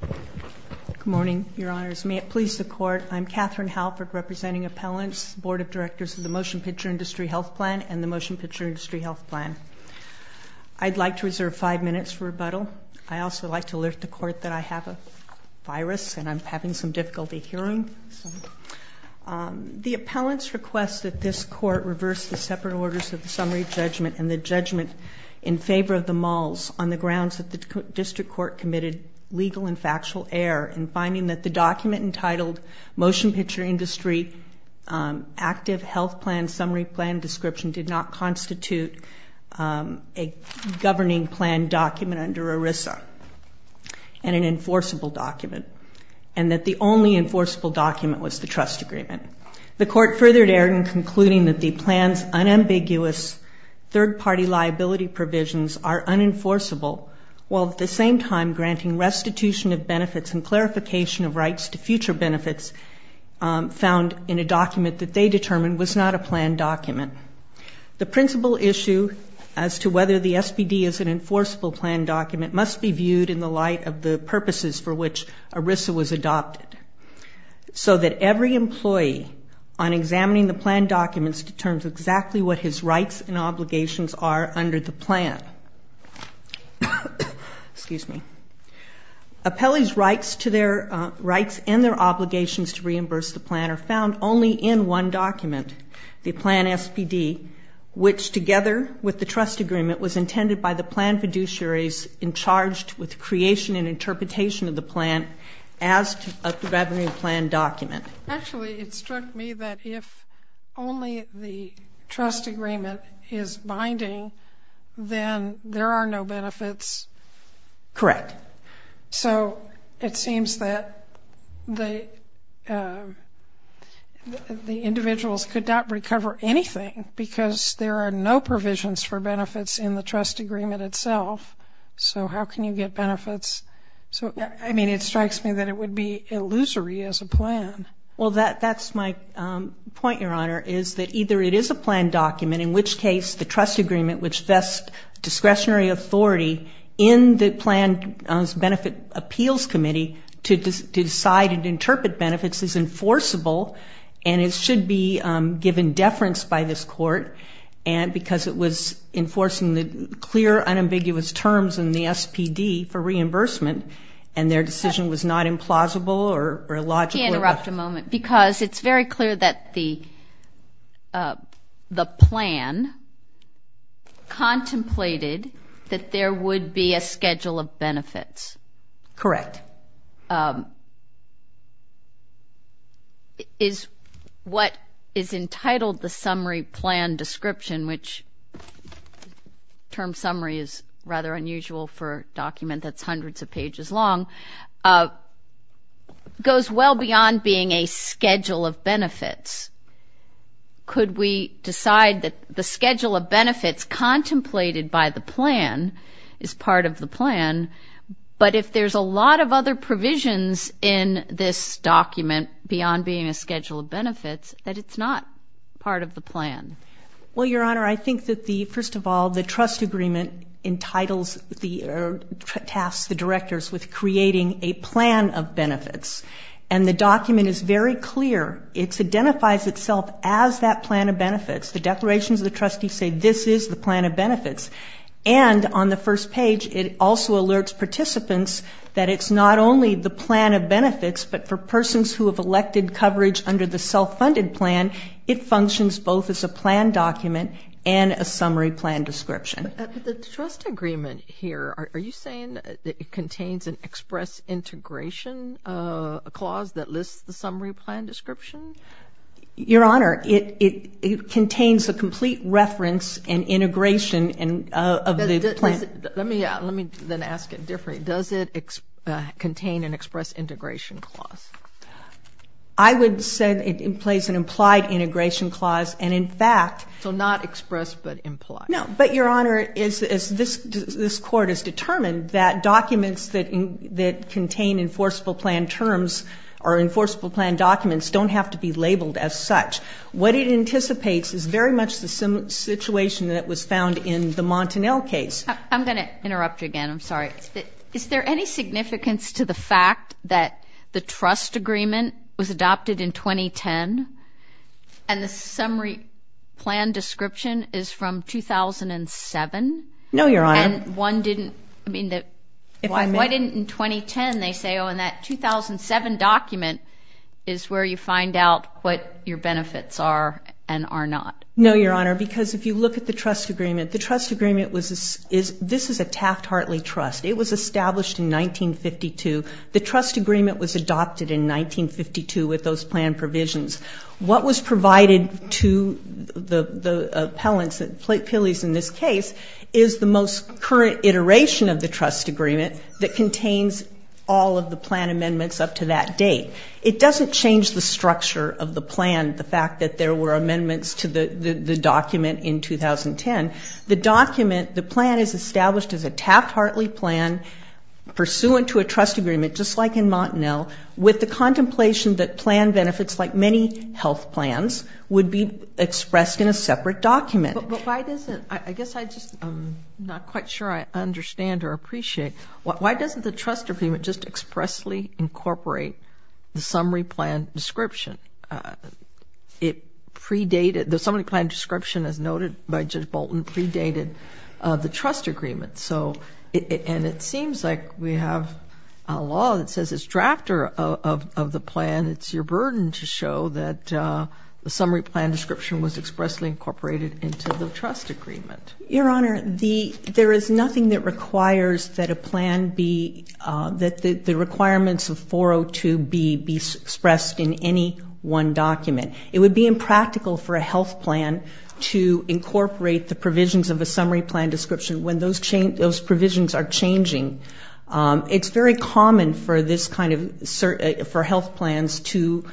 Good morning, Your Honors. May it please the Court, I'm Catherine Halpert representing Appellants, Board of Directors of the Motion Picture Industry Health Plan and the Motion Picture Industry Health Plan. I'd like to reserve five minutes for rebuttal. I'd also like to alert the Court that I have a virus and I'm having some difficulty hearing. The Appellants request that this Court reverse the separate orders of the summary judgment and the judgment in the district court committed legal and factual error in finding that the document entitled Motion Picture Industry Active Health Plan Summary Plan Description did not constitute a governing plan document under ERISA and an enforceable document and that the only enforceable document was the trust agreement. The court furthered error in concluding that the plan's unambiguous third-party liability provisions are unenforceable while at the same time granting restitution of benefits and clarification of rights to future benefits found in a document that they determined was not a plan document. The principal issue as to whether the SPD is an enforceable plan document must be viewed in the light of the purposes for which ERISA was adopted so that every employee on examining the plan documents determines exactly what his rights and obligations are under the plan. Excuse me. Appellee's rights to their rights and their obligations to reimburse the plan are found only in one document, the plan SPD, which together with the trust agreement was intended by the plan fiduciaries in charge with creation and interpretation of the plan as a governing plan document. Actually it struck me that if only the trust agreement is binding then there are no benefits. Correct. So it seems that the the individuals could not recover anything because there are no provisions for benefits in the trust agreement itself so how can you get benefits so I mean it strikes me that it would be illusory as a plan. Well that that's my point your honor is that either it is a plan document in which case the trust agreement which vests discretionary authority in the plan's benefit appeals committee to decide and interpret benefits is enforceable and it should be given deference by this court and because it was enforcing the clear unambiguous terms in the SPD for possible or logical. Can I interrupt a moment because it's very clear that the the plan contemplated that there would be a schedule of benefits. Correct. Is what is entitled the summary plan description which term summary is rather unusual for document that's hundreds of pages long goes well beyond being a schedule of benefits. Could we decide that the schedule of benefits contemplated by the plan is part of the plan but if there's a lot of other provisions in this document beyond being a schedule of benefits that it's not part of the plan. Well your honor I think that the first of all the trust agreement entitles the tasks the directors with creating a plan of benefits and the document is very clear it's identifies itself as that plan of benefits the declarations of the trustee say this is the plan of benefits and on the first page it also alerts participants that it's not only the plan of benefits but for persons who have elected coverage under the self-funded plan it functions both as a plan document and a summary plan description. The trust agreement here are you saying that it contains an express integration clause that lists the summary plan description? Your honor it it contains a complete reference and integration and of the plan. Let me let me then ask it differently does it contain an express integration clause? I would say it has an implied integration clause and in fact. So not expressed but implied? No but your honor is this this court is determined that documents that that contain enforceable plan terms or enforceable plan documents don't have to be labeled as such. What it anticipates is very much the same situation that was found in the Montanel case. I'm going to interrupt you again I'm sorry is there any significance to the fact that the trust agreement was adopted in 2010 and the summary plan description is from 2007? No your honor. And one didn't I mean that why didn't in 2010 they say oh and that 2007 document is where you find out what your benefits are and are not? No your honor because if you look at the trust agreement the trust agreement was this is this is a Taft-Hartley trust it was established in 1952. The trust agreement was adopted in 1952 with those plan provisions. What was provided to the the appellants at Pilleys in this case is the most current iteration of the trust agreement that contains all of the plan amendments up to that date. It doesn't change the structure of the plan the fact that there were amendments to the the document in 2010. The document the plan is established as a Taft-Hartley plan pursuant to a trust agreement just like in Montanel with the contemplation that plan benefits like many health plans would be expressed in a separate document. But why doesn't I guess I just I'm not quite sure I understand or appreciate why doesn't the trust agreement just expressly incorporate the summary plan description? It predated the summary plan description as noted by Judge Bolton predated the trust agreement so and it seems like we have a law that says it's drafter of the plan it's your burden to show that the summary plan description was expressly incorporated into the trust agreement. Your honor the there is nothing that requires that a plan be that the requirements of 402 B be expressed in any one document. It would be impractical for a health plan to incorporate the provisions of a summary plan description when those change those provisions are changing. It's very common for this kind of certain for health plans to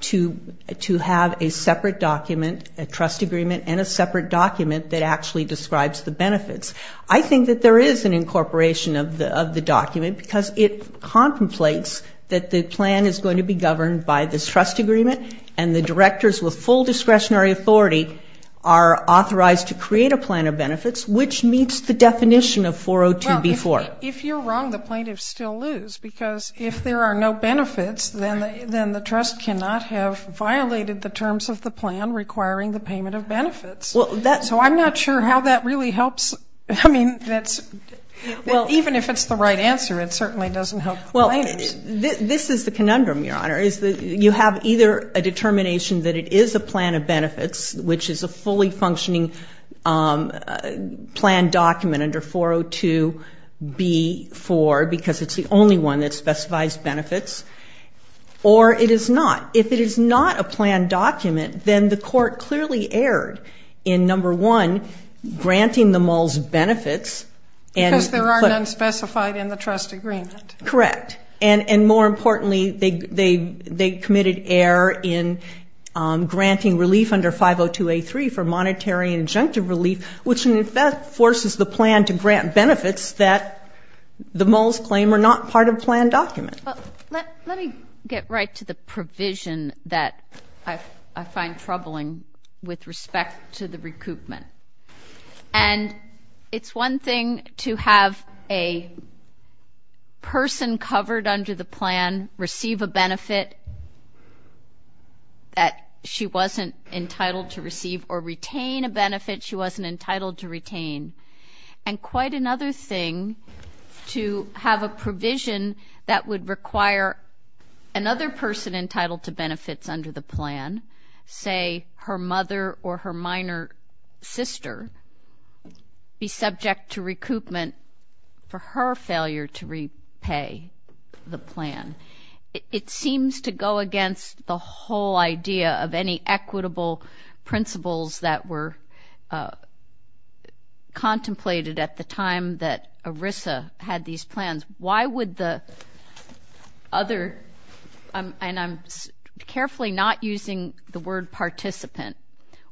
to to have a separate document a trust agreement and a separate document that actually describes the benefits. I think that there is an incorporation of the of the document because it contemplates that the plan is governed by this trust agreement and the directors with full discretionary authority are authorized to create a plan of benefits which meets the definition of 402 B 4. If you're wrong the plaintiffs still lose because if there are no benefits then then the trust cannot have violated the terms of the plan requiring the payment of benefits. Well that's so I'm not sure how that really helps I mean that's well even if it's the right answer it is that you have either a determination that it is a plan of benefits which is a fully functioning plan document under 402 B 4 because it's the only one that specifies benefits or it is not. If it is not a plan document then the court clearly erred in number one granting them all benefits. Because there are unspecified in the trust agreement. Correct and and more importantly they they committed error in granting relief under 502 A 3 for monetary and injunctive relief which in fact forces the plan to grant benefits that the moles claim are not part of plan document. Let me get right to the provision that I find troubling with respect to the recoupment and it's one thing to have a person covered under the plan receive a benefit that she wasn't entitled to receive or retain a benefit she wasn't entitled to retain and quite another thing to have a provision that would require another person entitled to benefits under the plan say her mother or her minor sister be subject to recoupment for her failure to repay the plan. It seems to go against the whole idea of any equitable principles that were contemplated at the time that ERISA had these plans. Why would the other and I'm carefully not using the word participant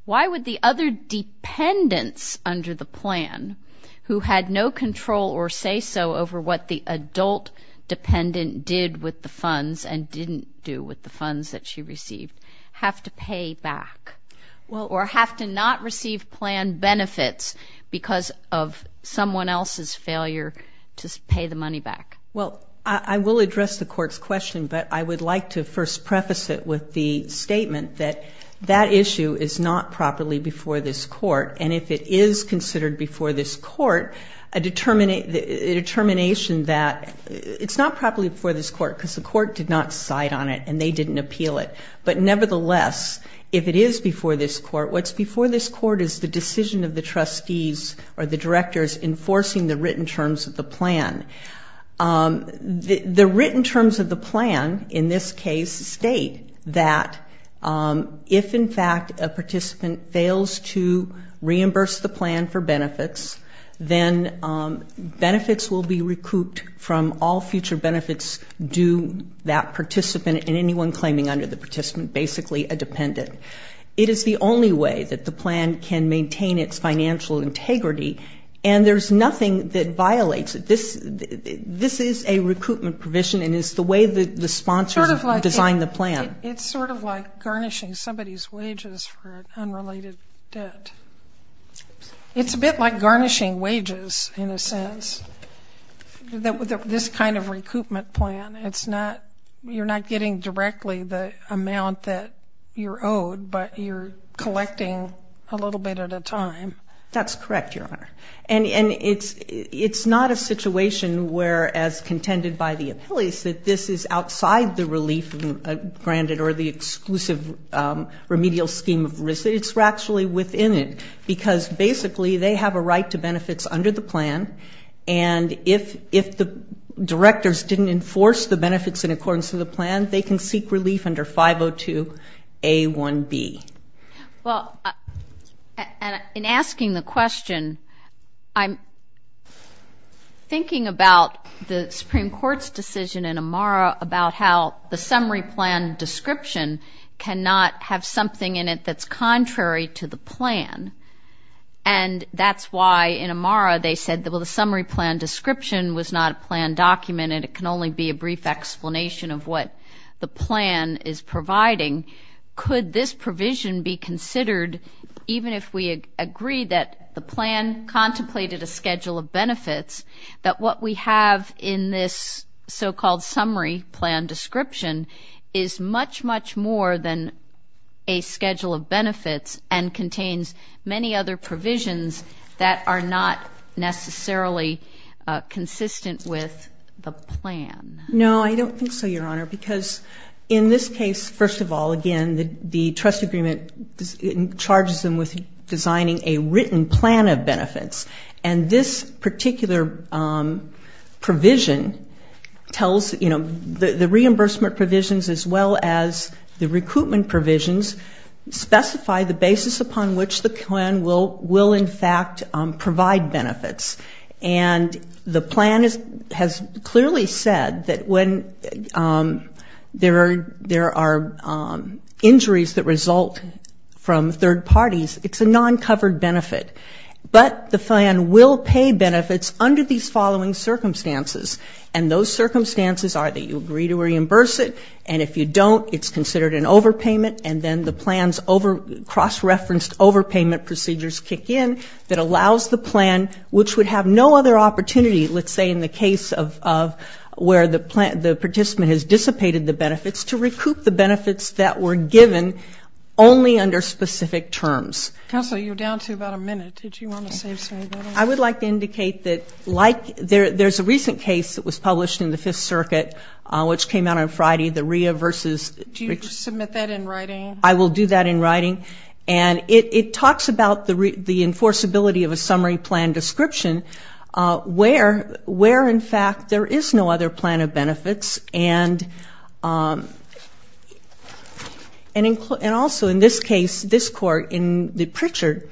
why would the other dependents under the plan who had no control or say so over what the adult dependent did with the funds and didn't do with the funds that she received have to pay back well or have to not receive plan benefits because of someone else's failure to pay the money back. Well I will address the court's question but I would like to first preface it with the statement that that issue is not properly before this court and if it is considered before this court a determination that it's not properly before this court because the court did not cite on it and they didn't appeal it but nevertheless if it is before this court what's before this court is the decision of the trustees or the directors enforcing the written terms of the plan. The written terms of the plan in this case state that if in fact a participant fails to reimburse the plan for benefits then benefits will be recouped from all future benefits due that participant and anyone claiming under the participant basically a dependent. It is the only way that the plan can maintain its financial integrity and there's nothing that violates it. This this is a recoupment provision and it's the way that the sponsor designed the plan. It's sort of like garnishing somebody's wages for unrelated debt. It's a bit like garnishing wages in a sense that with this kind of recoupment plan it's not you're not getting directly the amount that you're owed but you're collecting a little bit at a time. That's correct your honor and and it's it's not a situation where as that this is outside the relief granted or the exclusive remedial scheme of risk it's actually within it because basically they have a right to benefits under the plan and if if the directors didn't enforce the benefits in accordance of the plan they can seek relief under 502 a 1b. Well in asking the about how the summary plan description cannot have something in it that's contrary to the plan and that's why in Amara they said that will the summary plan description was not a plan document and it can only be a brief explanation of what the plan is providing. Could this provision be considered even if we agree that the plan contemplated a schedule of benefits that what we have in this so-called summary plan description is much much more than a schedule of benefits and contains many other provisions that are not necessarily consistent with the plan? No I don't think so your honor because in this case first of all again the the trust agreement charges them with designing a the reimbursement provisions as well as the recruitment provisions specify the basis upon which the plan will will in fact provide benefits and the plan is has clearly said that when there are injuries that result from third parties it's a non-covered benefit but the plan will pay benefits under these circumstances and those circumstances are that you agree to reimburse it and if you don't it's considered an overpayment and then the plans over cross-referenced overpayment procedures kick in that allows the plan which would have no other opportunity let's say in the case of where the participant has dissipated the benefits to recoup the benefits that were given only under specific terms. Counselor you're down to about a minute did you want to say something? I would like to indicate that like there's a recent case that was published in the Fifth Circuit which came out on Friday the RIA versus. Do you submit that in writing? I will do that in writing and it talks about the the enforceability of a summary plan description where where in fact there is no other plan of benefits and also in this case this court in the Pritchard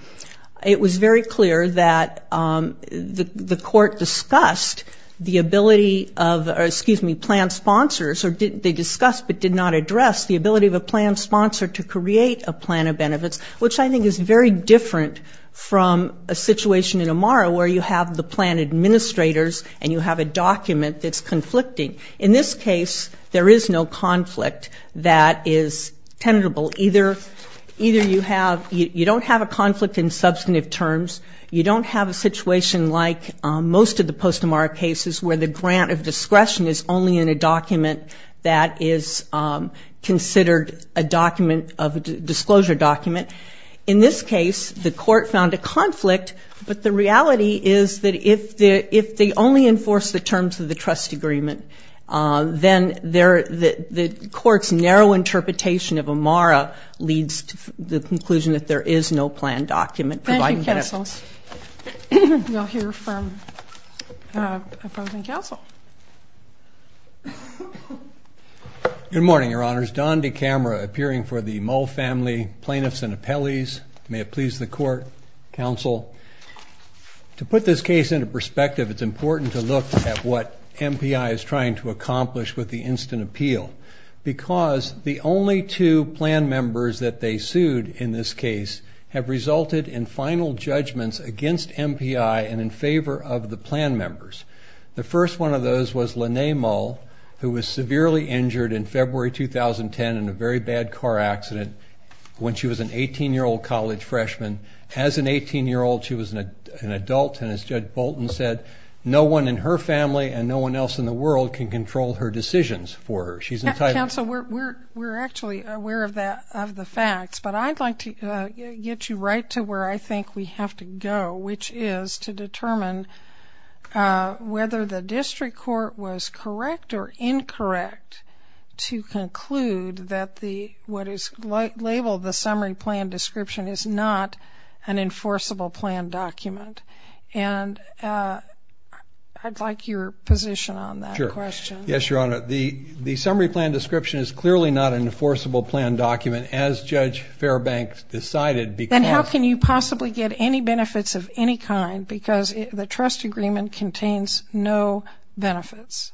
it was very clear that the court discussed the ability of excuse me plan sponsors they discussed but did not address the ability of a plan sponsor to create a plan of benefits which I think is very different from a situation in Amara where you have the plan administrators and you have a document that's conflicting in this case there is no conflict that is tenable either either you have you don't have a conflict in substantive terms you don't have a situation like most of the post Amara cases where the grant of discretion is only in a document that is considered a document of disclosure document in this the court found a conflict but the reality is that if the if they only enforce the terms of the trust agreement then there the court's narrow interpretation of Amara leads to the conclusion that there is no plan document good morning your honor's Don de camera appearing for the mole family plaintiffs and appellees may it please the court counsel to put this case into perspective it's important to look at what MPI is trying to accomplish with the instant appeal because the only two plan members that they sued in this case have resulted in final judgments against MPI and in favor of the plan members the first one of those was Linnae Mull who was severely injured in February 2010 in a very bad car accident when she was an 18 year old college freshman as an 18 year old she was an adult and as judge Bolton said no one in her family and no one else in the world can control her decisions for her she's entitled so we're we're actually aware of that of the facts but I'd like to get you right to where I think we have to go which is to determine whether the district court was correct or incorrect to conclude that the what is light label the summary plan description is not an enforceable plan document and I'd like your position on that question yes your honor the the summary plan description is clearly not an enforceable plan document as judge Fairbanks decided because how can you possibly get any benefits of any kind because the trust agreement contains no benefits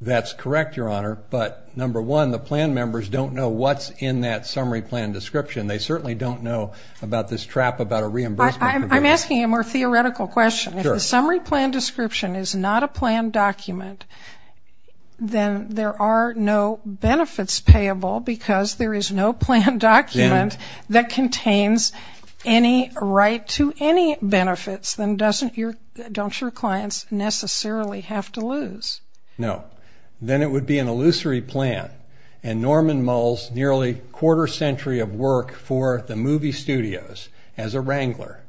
that's correct your honor but number one the plan members don't know what's in that summary plan description they certainly don't know about this trap about a reimbursement I'm asking a more theoretical question summary plan description is not a plan document then there are no benefits payable because there is no plan document that contains any right to any benefits then doesn't your don't your clients necessarily have to lose no then it would be an illusory plan and Norman Mulls nearly quarter-century of work for the movie studios as a wrangler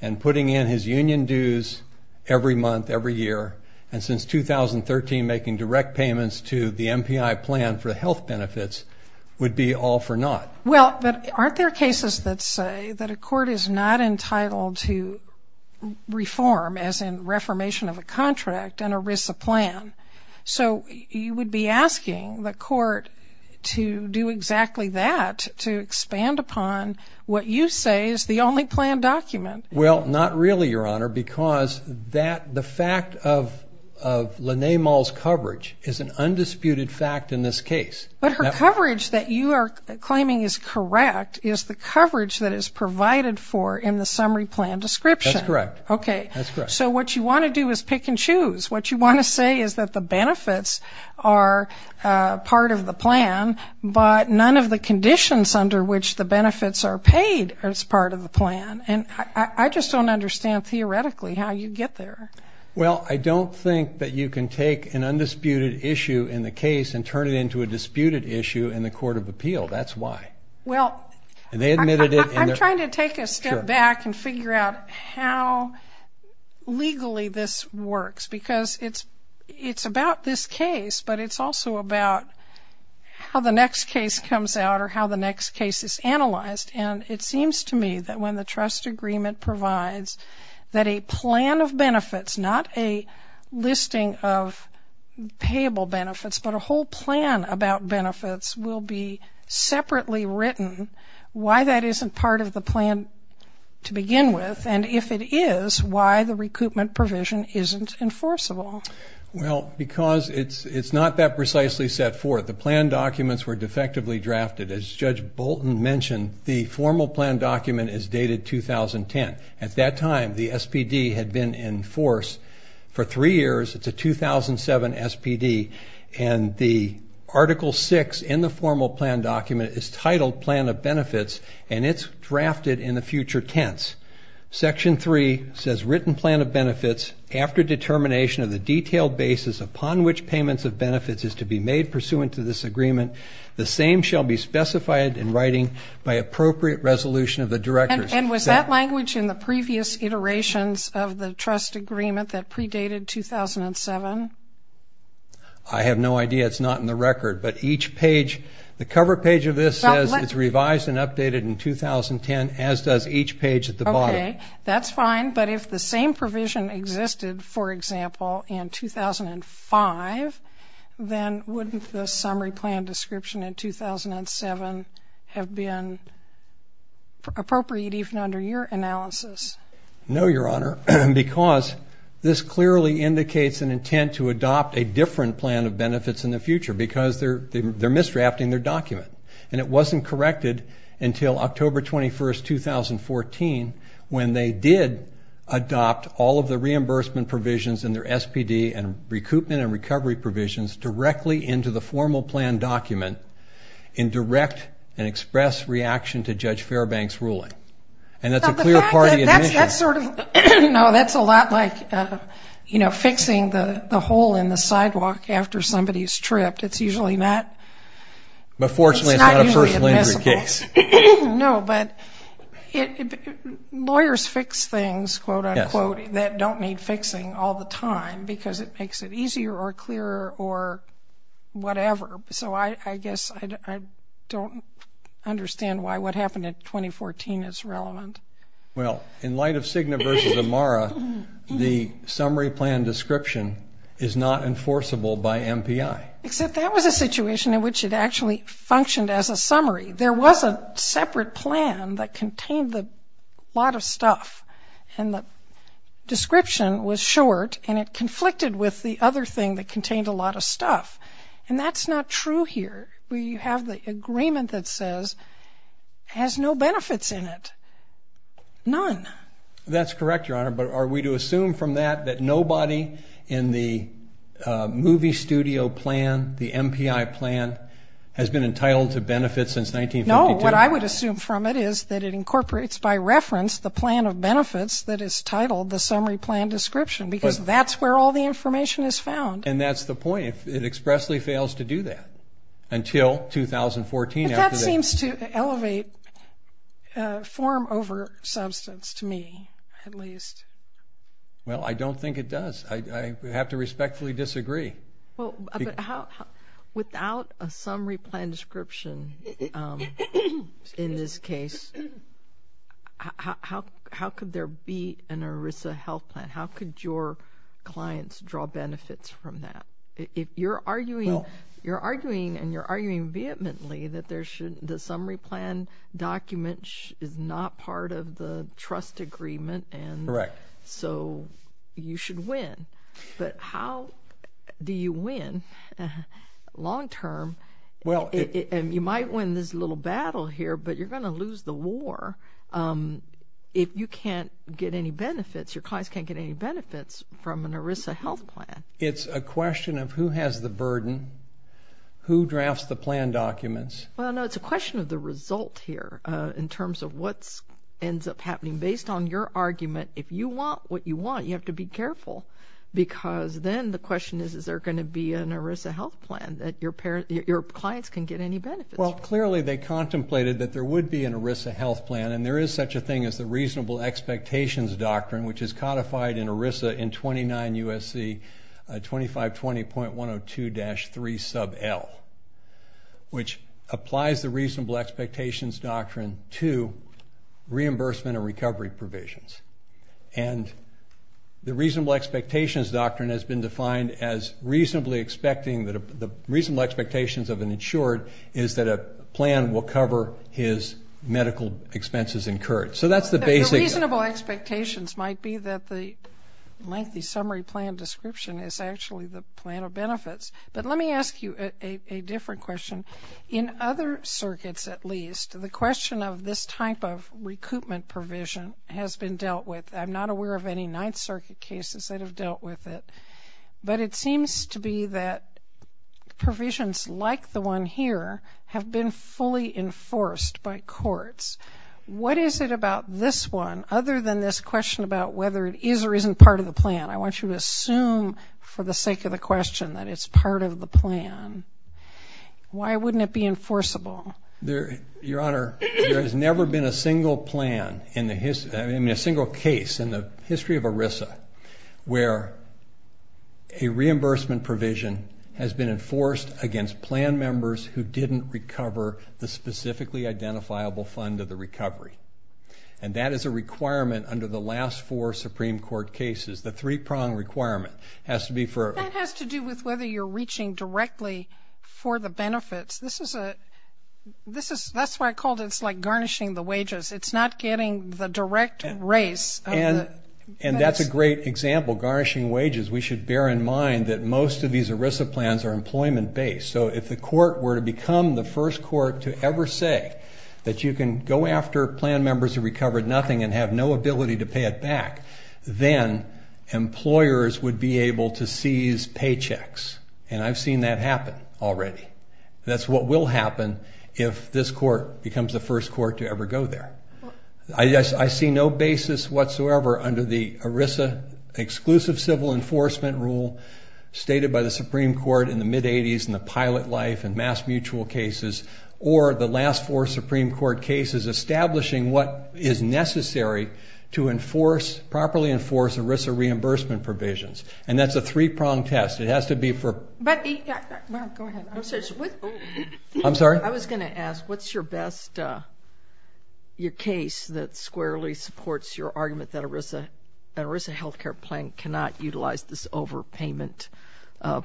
and putting in his union dues every month every year and since 2013 making direct payments to the MPI plan for health benefits would be all for naught well but aren't there cases that say that a court is not entitled to reform as in reformation of a contract and a Risa plan so you would be asking the court to do exactly that to expand upon what you say is the only plan document well not really your honor because that the fact of Linnaeus Mulls coverage is an undisputed fact in this case but her coverage that you are claiming is correct is the coverage that is provided for in the summary plan description correct okay so what you want to do is pick and choose what you want to say is that the benefits are part of the plan but none of the conditions under which the benefits are paid as part of the plan and I just don't understand theoretically how you get there well I don't think that you can take an undisputed issue in the case and turn it into a disputed issue in the Court of Appeal that's why well they admitted it I'm trying to take a step back and figure out how legally this works because it's it's about this case but it's also about how the next case comes out or how the next case is analyzed and it seems to me that when the trust agreement provides that a plan of benefits not a listing of payable benefits but a whole plan about benefits will be separately written why that isn't part of the plan to begin with and if it is why the recoupment provision isn't enforceable well because it's it's not that precisely set forth the plan documents were defectively drafted as Judge Bolton mentioned the formal plan document is dated 2010 at that time the 2007 SPD and the article 6 in the formal plan document is titled plan of benefits and it's drafted in the future tense section 3 says written plan of benefits after determination of the detailed basis upon which payments of benefits is to be made pursuant to this agreement the same shall be specified in writing by appropriate resolution of the directors and was that language in the I have no idea it's not in the record but each page the cover page of this says it's revised and updated in 2010 as does each page at the bottom that's fine but if the same provision existed for example in 2005 then wouldn't the summary plan description in 2007 have been appropriate even under your analysis no because this clearly indicates an intent to adopt a different plan of benefits in the future because they're they're misdrafting their document and it wasn't corrected until October 21st 2014 when they did adopt all of the reimbursement provisions in their SPD and recoupment and recovery provisions directly into the formal plan document in direct and express reaction to judge Fairbanks ruling and that's a clear party that's sort of you know that's a lot like you know fixing the the hole in the sidewalk after somebody's tripped it's usually not but fortunately it's not a first-degree case no but it lawyers fix things quote-unquote that don't need fixing all the time because it makes it easier or clearer or whatever so I guess I don't understand why what happened at 2014 is relevant well in light of Cigna versus Amara the summary plan description is not enforceable by MPI except that was a situation in which it actually functioned as a summary there was a separate plan that contained the lot of stuff and the description was short and it conflicted with the other thing that contained a lot of stuff and that's not true here where you have the that says has no benefits in it none that's correct your honor but are we to assume from that that nobody in the movie studio plan the MPI plan has been entitled to benefit since 19 no what I would assume from it is that it incorporates by reference the plan of benefits that is titled the summary plan description because that's where all the information is found and that's the point it expressly fails to do that until 2014 that seems to elevate form over substance to me at least well I don't think it does I have to respectfully disagree without a summary plan description in this case how could there be an Orissa health plan how could your clients draw benefits from that if you're arguing you're arguing and you're arguing vehemently that there should the summary plan document is not part of the trust agreement and correct so you should win but how do you win long term well and you might win this little battle here but you're gonna lose the war if you can't get any benefits your clients can't get any benefits from an Orissa health plan it's a question of who has the burden who drafts the plan documents well no it's a question of the result here in terms of what's ends up happening based on your argument if you want what you want you have to be careful because then the question is is there going to be an Orissa health plan that your parent your clients can get any benefit well clearly they contemplated that there would be an Orissa health plan and there is such a thing as the reasonable expectations doctrine which is codified in Orissa in 29 USC 2520.102-3 sub L which applies the reasonable expectations doctrine to reimbursement and recovery provisions and the reasonable expectations doctrine has been defined as reasonably expecting that the reasonable expectations of an insured is that a plan will cover his expectations might be that the lengthy summary plan description is actually the plan of benefits but let me ask you a different question in other circuits at least the question of this type of recoupment provision has been dealt with I'm not aware of any Ninth Circuit cases that have dealt with it but it seems to be that provisions like the one here have been fully enforced by courts what is it about this one other than this question about whether it is or isn't part of the plan I want you to assume for the sake of the question that it's part of the plan why wouldn't it be enforceable there your honor there has never been a single plan in the history I mean a single case in the history of Orissa where a reimbursement provision has been enforced against plan members who didn't recover the specifically identifiable fund of the recovery and that is a requirement under the last four Supreme Court cases the three-prong requirement has to be for it has to do with whether you're reaching directly for the benefits this is a this is that's why I called it's like garnishing the wages it's not getting the direct race and and that's a great example garnishing wages we should bear in mind that most of these Orissa plans are employment-based so if the court were to become the first court to ever say that you can go after plan members who recovered nothing and have no ability to pay it back then employers would be able to seize paychecks and I've seen that happen already that's what will happen if this court becomes the first court to ever go there I guess I see no basis whatsoever under the Orissa exclusive civil enforcement rule stated by the Supreme Court in the mid 80s in the pilot life and mass mutual cases or the last four Supreme Court cases establishing what is necessary to enforce properly enforce Orissa reimbursement provisions and that's a three-prong test it has to be for I'm sorry I was gonna ask what's your best your case that squarely supports your not utilize this over payment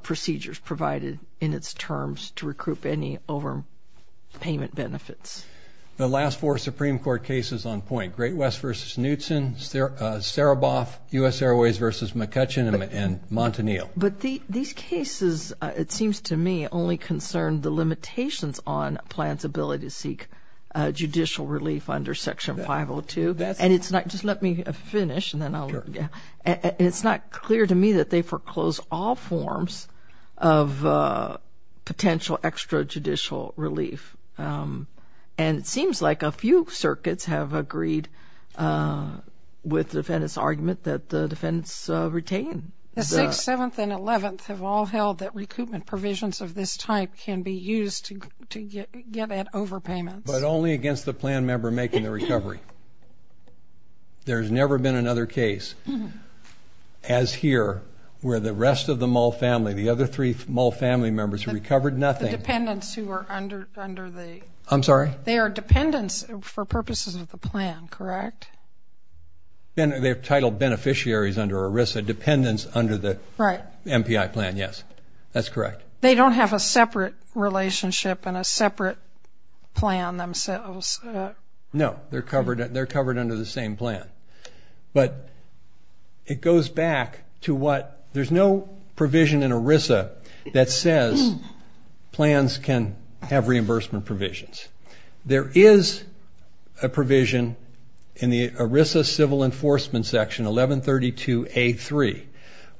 procedures provided in its terms to recruit any over payment benefits the last four Supreme Court cases on point Great West versus Knutson's there Sarah Boff US Airways versus McCutcheon and Montanil but these cases it seems to me only concerned the limitations on plans ability to seek judicial relief under section 502 that's and it's not just let me finish and then it's not clear to me that they foreclose all forms of potential extrajudicial relief and it seems like a few circuits have agreed with defendants argument that the defendants retain the sixth seventh and eleventh have all held that recoupment provisions of this type can be used to get at overpayment but only against the plan member making the recovery there's never been another case as here where the rest of the mall family the other three small family members who recovered nothing dependents who are under under the I'm sorry they are dependents for purposes of the plan correct then they have titled beneficiaries under Orissa dependents under the right MPI plan yes that's correct they don't have a separate relationship and a separate plan themselves no they're covered they're covered under the same plan but it goes back to what there's no provision in Orissa that says plans can have reimbursement provisions there is a provision in the Orissa civil enforcement section 1132 a3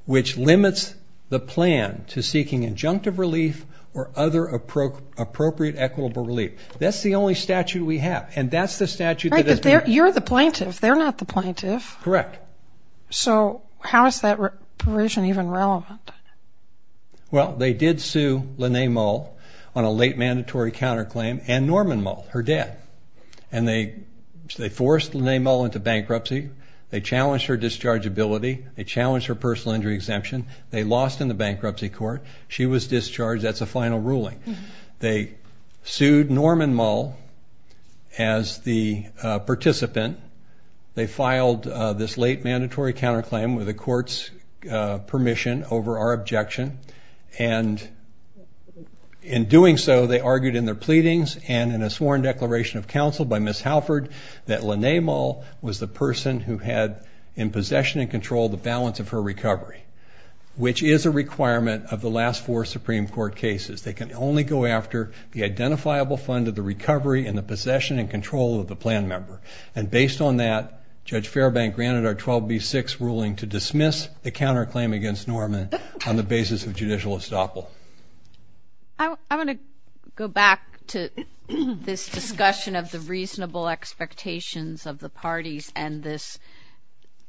which limits the plan to seeking injunctive relief or appropriate equitable relief that's the only statute we have and that's the statute you're the plaintiff they're not the plaintiff correct so how is that provision even relevant well they did sue Linnae Moll on a late mandatory counterclaim and Norman Moll her dad and they they forced Linnae Moll into bankruptcy they challenged her discharge ability they challenged her personal injury exemption they lost in the bankruptcy court she was discharged that's a final ruling they sued Norman Moll as the participant they filed this late mandatory counterclaim with the court's permission over our objection and in doing so they argued in their pleadings and in a sworn declaration of counsel by Miss Halford that Linnae Moll was the person who had in possession and control the balance of her recovery which is a requirement of the last four Supreme Court cases they can only go after the identifiable fund of the recovery and the possession and control of the plan member and based on that Judge Fairbank granted our 12b6 ruling to dismiss the counterclaim against Norman on the basis of judicial estoppel. I want to go back to this discussion of the reasonable expectations of the parties and this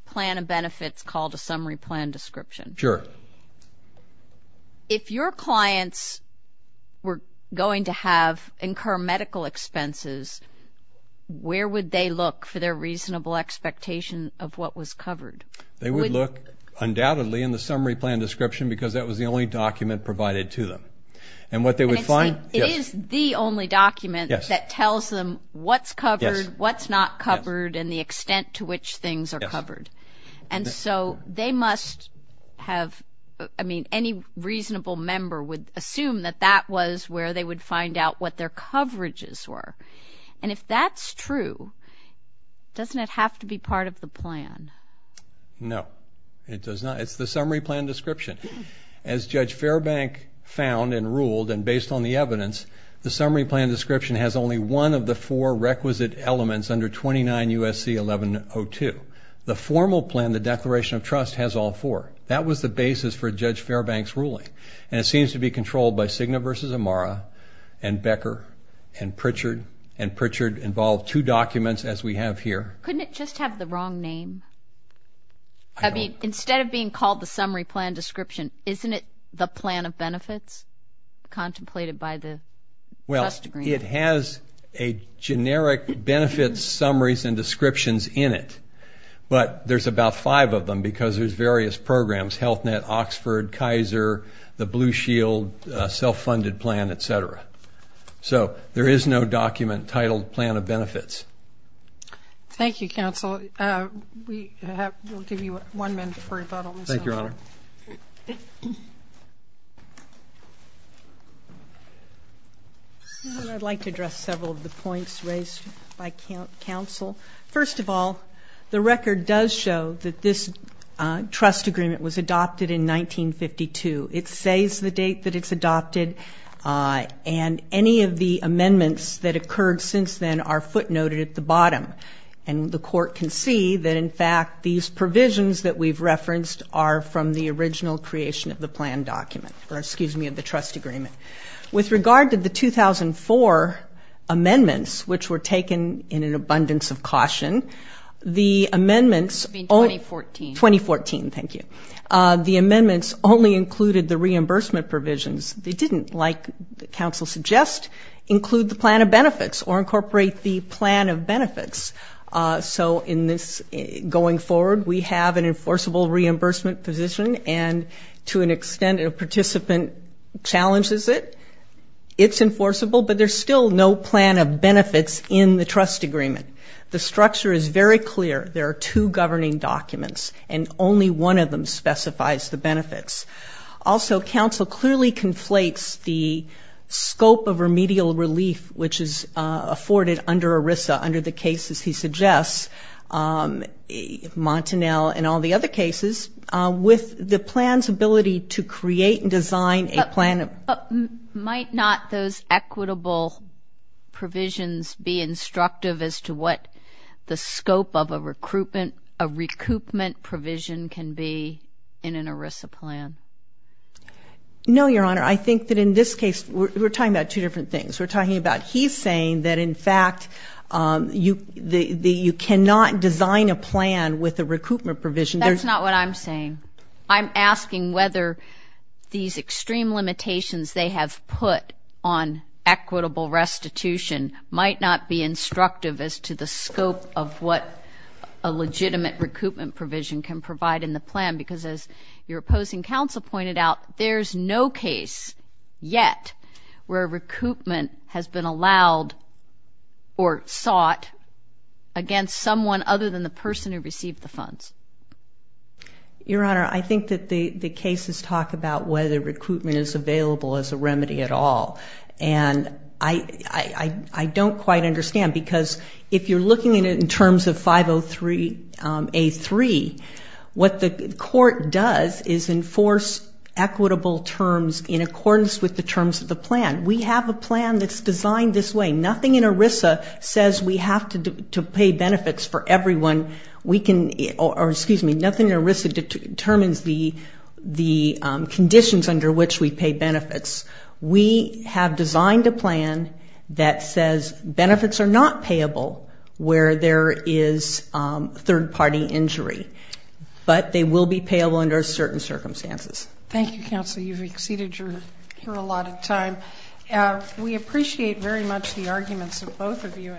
plan of benefits called the summary plan description. Sure. If your clients were going to have incur medical expenses where would they look for their reasonable expectation of what was covered? They would look undoubtedly in the summary plan description because that was the only document provided to them and what they would find is the only document that tells them what's covered what's not covered and the must have I mean any reasonable member would assume that that was where they would find out what their coverages were and if that's true doesn't it have to be part of the plan? No it does not it's the summary plan description as Judge Fairbank found and ruled and based on the evidence the summary plan description has only one of the four requisite elements under 29 USC 1102 the formal plan the declaration of trust has all four that was the basis for Judge Fairbank's ruling and it seems to be controlled by Cigna versus Amara and Becker and Pritchard and Pritchard involved two documents as we have here. Couldn't it just have the wrong name? I mean instead of being called the summary plan description isn't it the plan of benefits contemplated by the trust but there's about five of them because there's various programs Health Net Oxford Kaiser the Blue Shield self-funded plan etc so there is no document titled plan of benefits. Thank you counsel. I'd like to address several of the points raised by counsel first of all the record does show that this trust agreement was adopted in 1952 it says the date that it's adopted and any of the amendments that occurred since then are footnoted at the bottom and the court can see that in fact these provisions that we've referenced are from the original creation of the plan document or excuse me of the trust agreement. With regard to the 2004 amendments which were taken in an abundance of caution the amendments 2014 thank you the amendments only included the reimbursement provisions they didn't like the council suggest include the plan of benefits or incorporate the plan of benefits so in this going forward we have an enforceable reimbursement position and to an extent a participant challenges it it's enforceable but there's still no plan of benefits in the trust agreement the structure is very clear there are two governing documents and only one of them specifies the benefits also counsel clearly conflates the scope of remedial relief which is afforded under ERISA under the cases he suggests Montanel and all the other cases with the plans ability to create and design a plan of might not those equitable provisions be instructive as to what the scope of a recruitment a recoupment provision can be in an ERISA plan no your honor I think that in this case we're talking about two different things we're talking about he's saying that in fact you the you cannot design a plan with the recoupment provision that's not what I'm saying I'm asking whether these extreme limitations they have put on equitable restitution might not be instructive as to the scope of what a legitimate recoupment provision can provide in the plan because as your opposing counsel pointed out there's no case yet where recoupment has been allowed or sought against someone other than the person who received the funds your honor I think that the the cases about whether recruitment is available as a remedy at all and I I don't quite understand because if you're looking at it in terms of 503 a3 what the court does is enforce equitable terms in accordance with the terms of the plan we have a plan that's designed this way nothing in ERISA says we have to pay benefits for conditions under which we pay benefits we have designed a plan that says benefits are not payable where there is third-party injury but they will be payable under certain circumstances thank you counsel you've exceeded your here a lot of time we appreciate very much the arguments of both of you in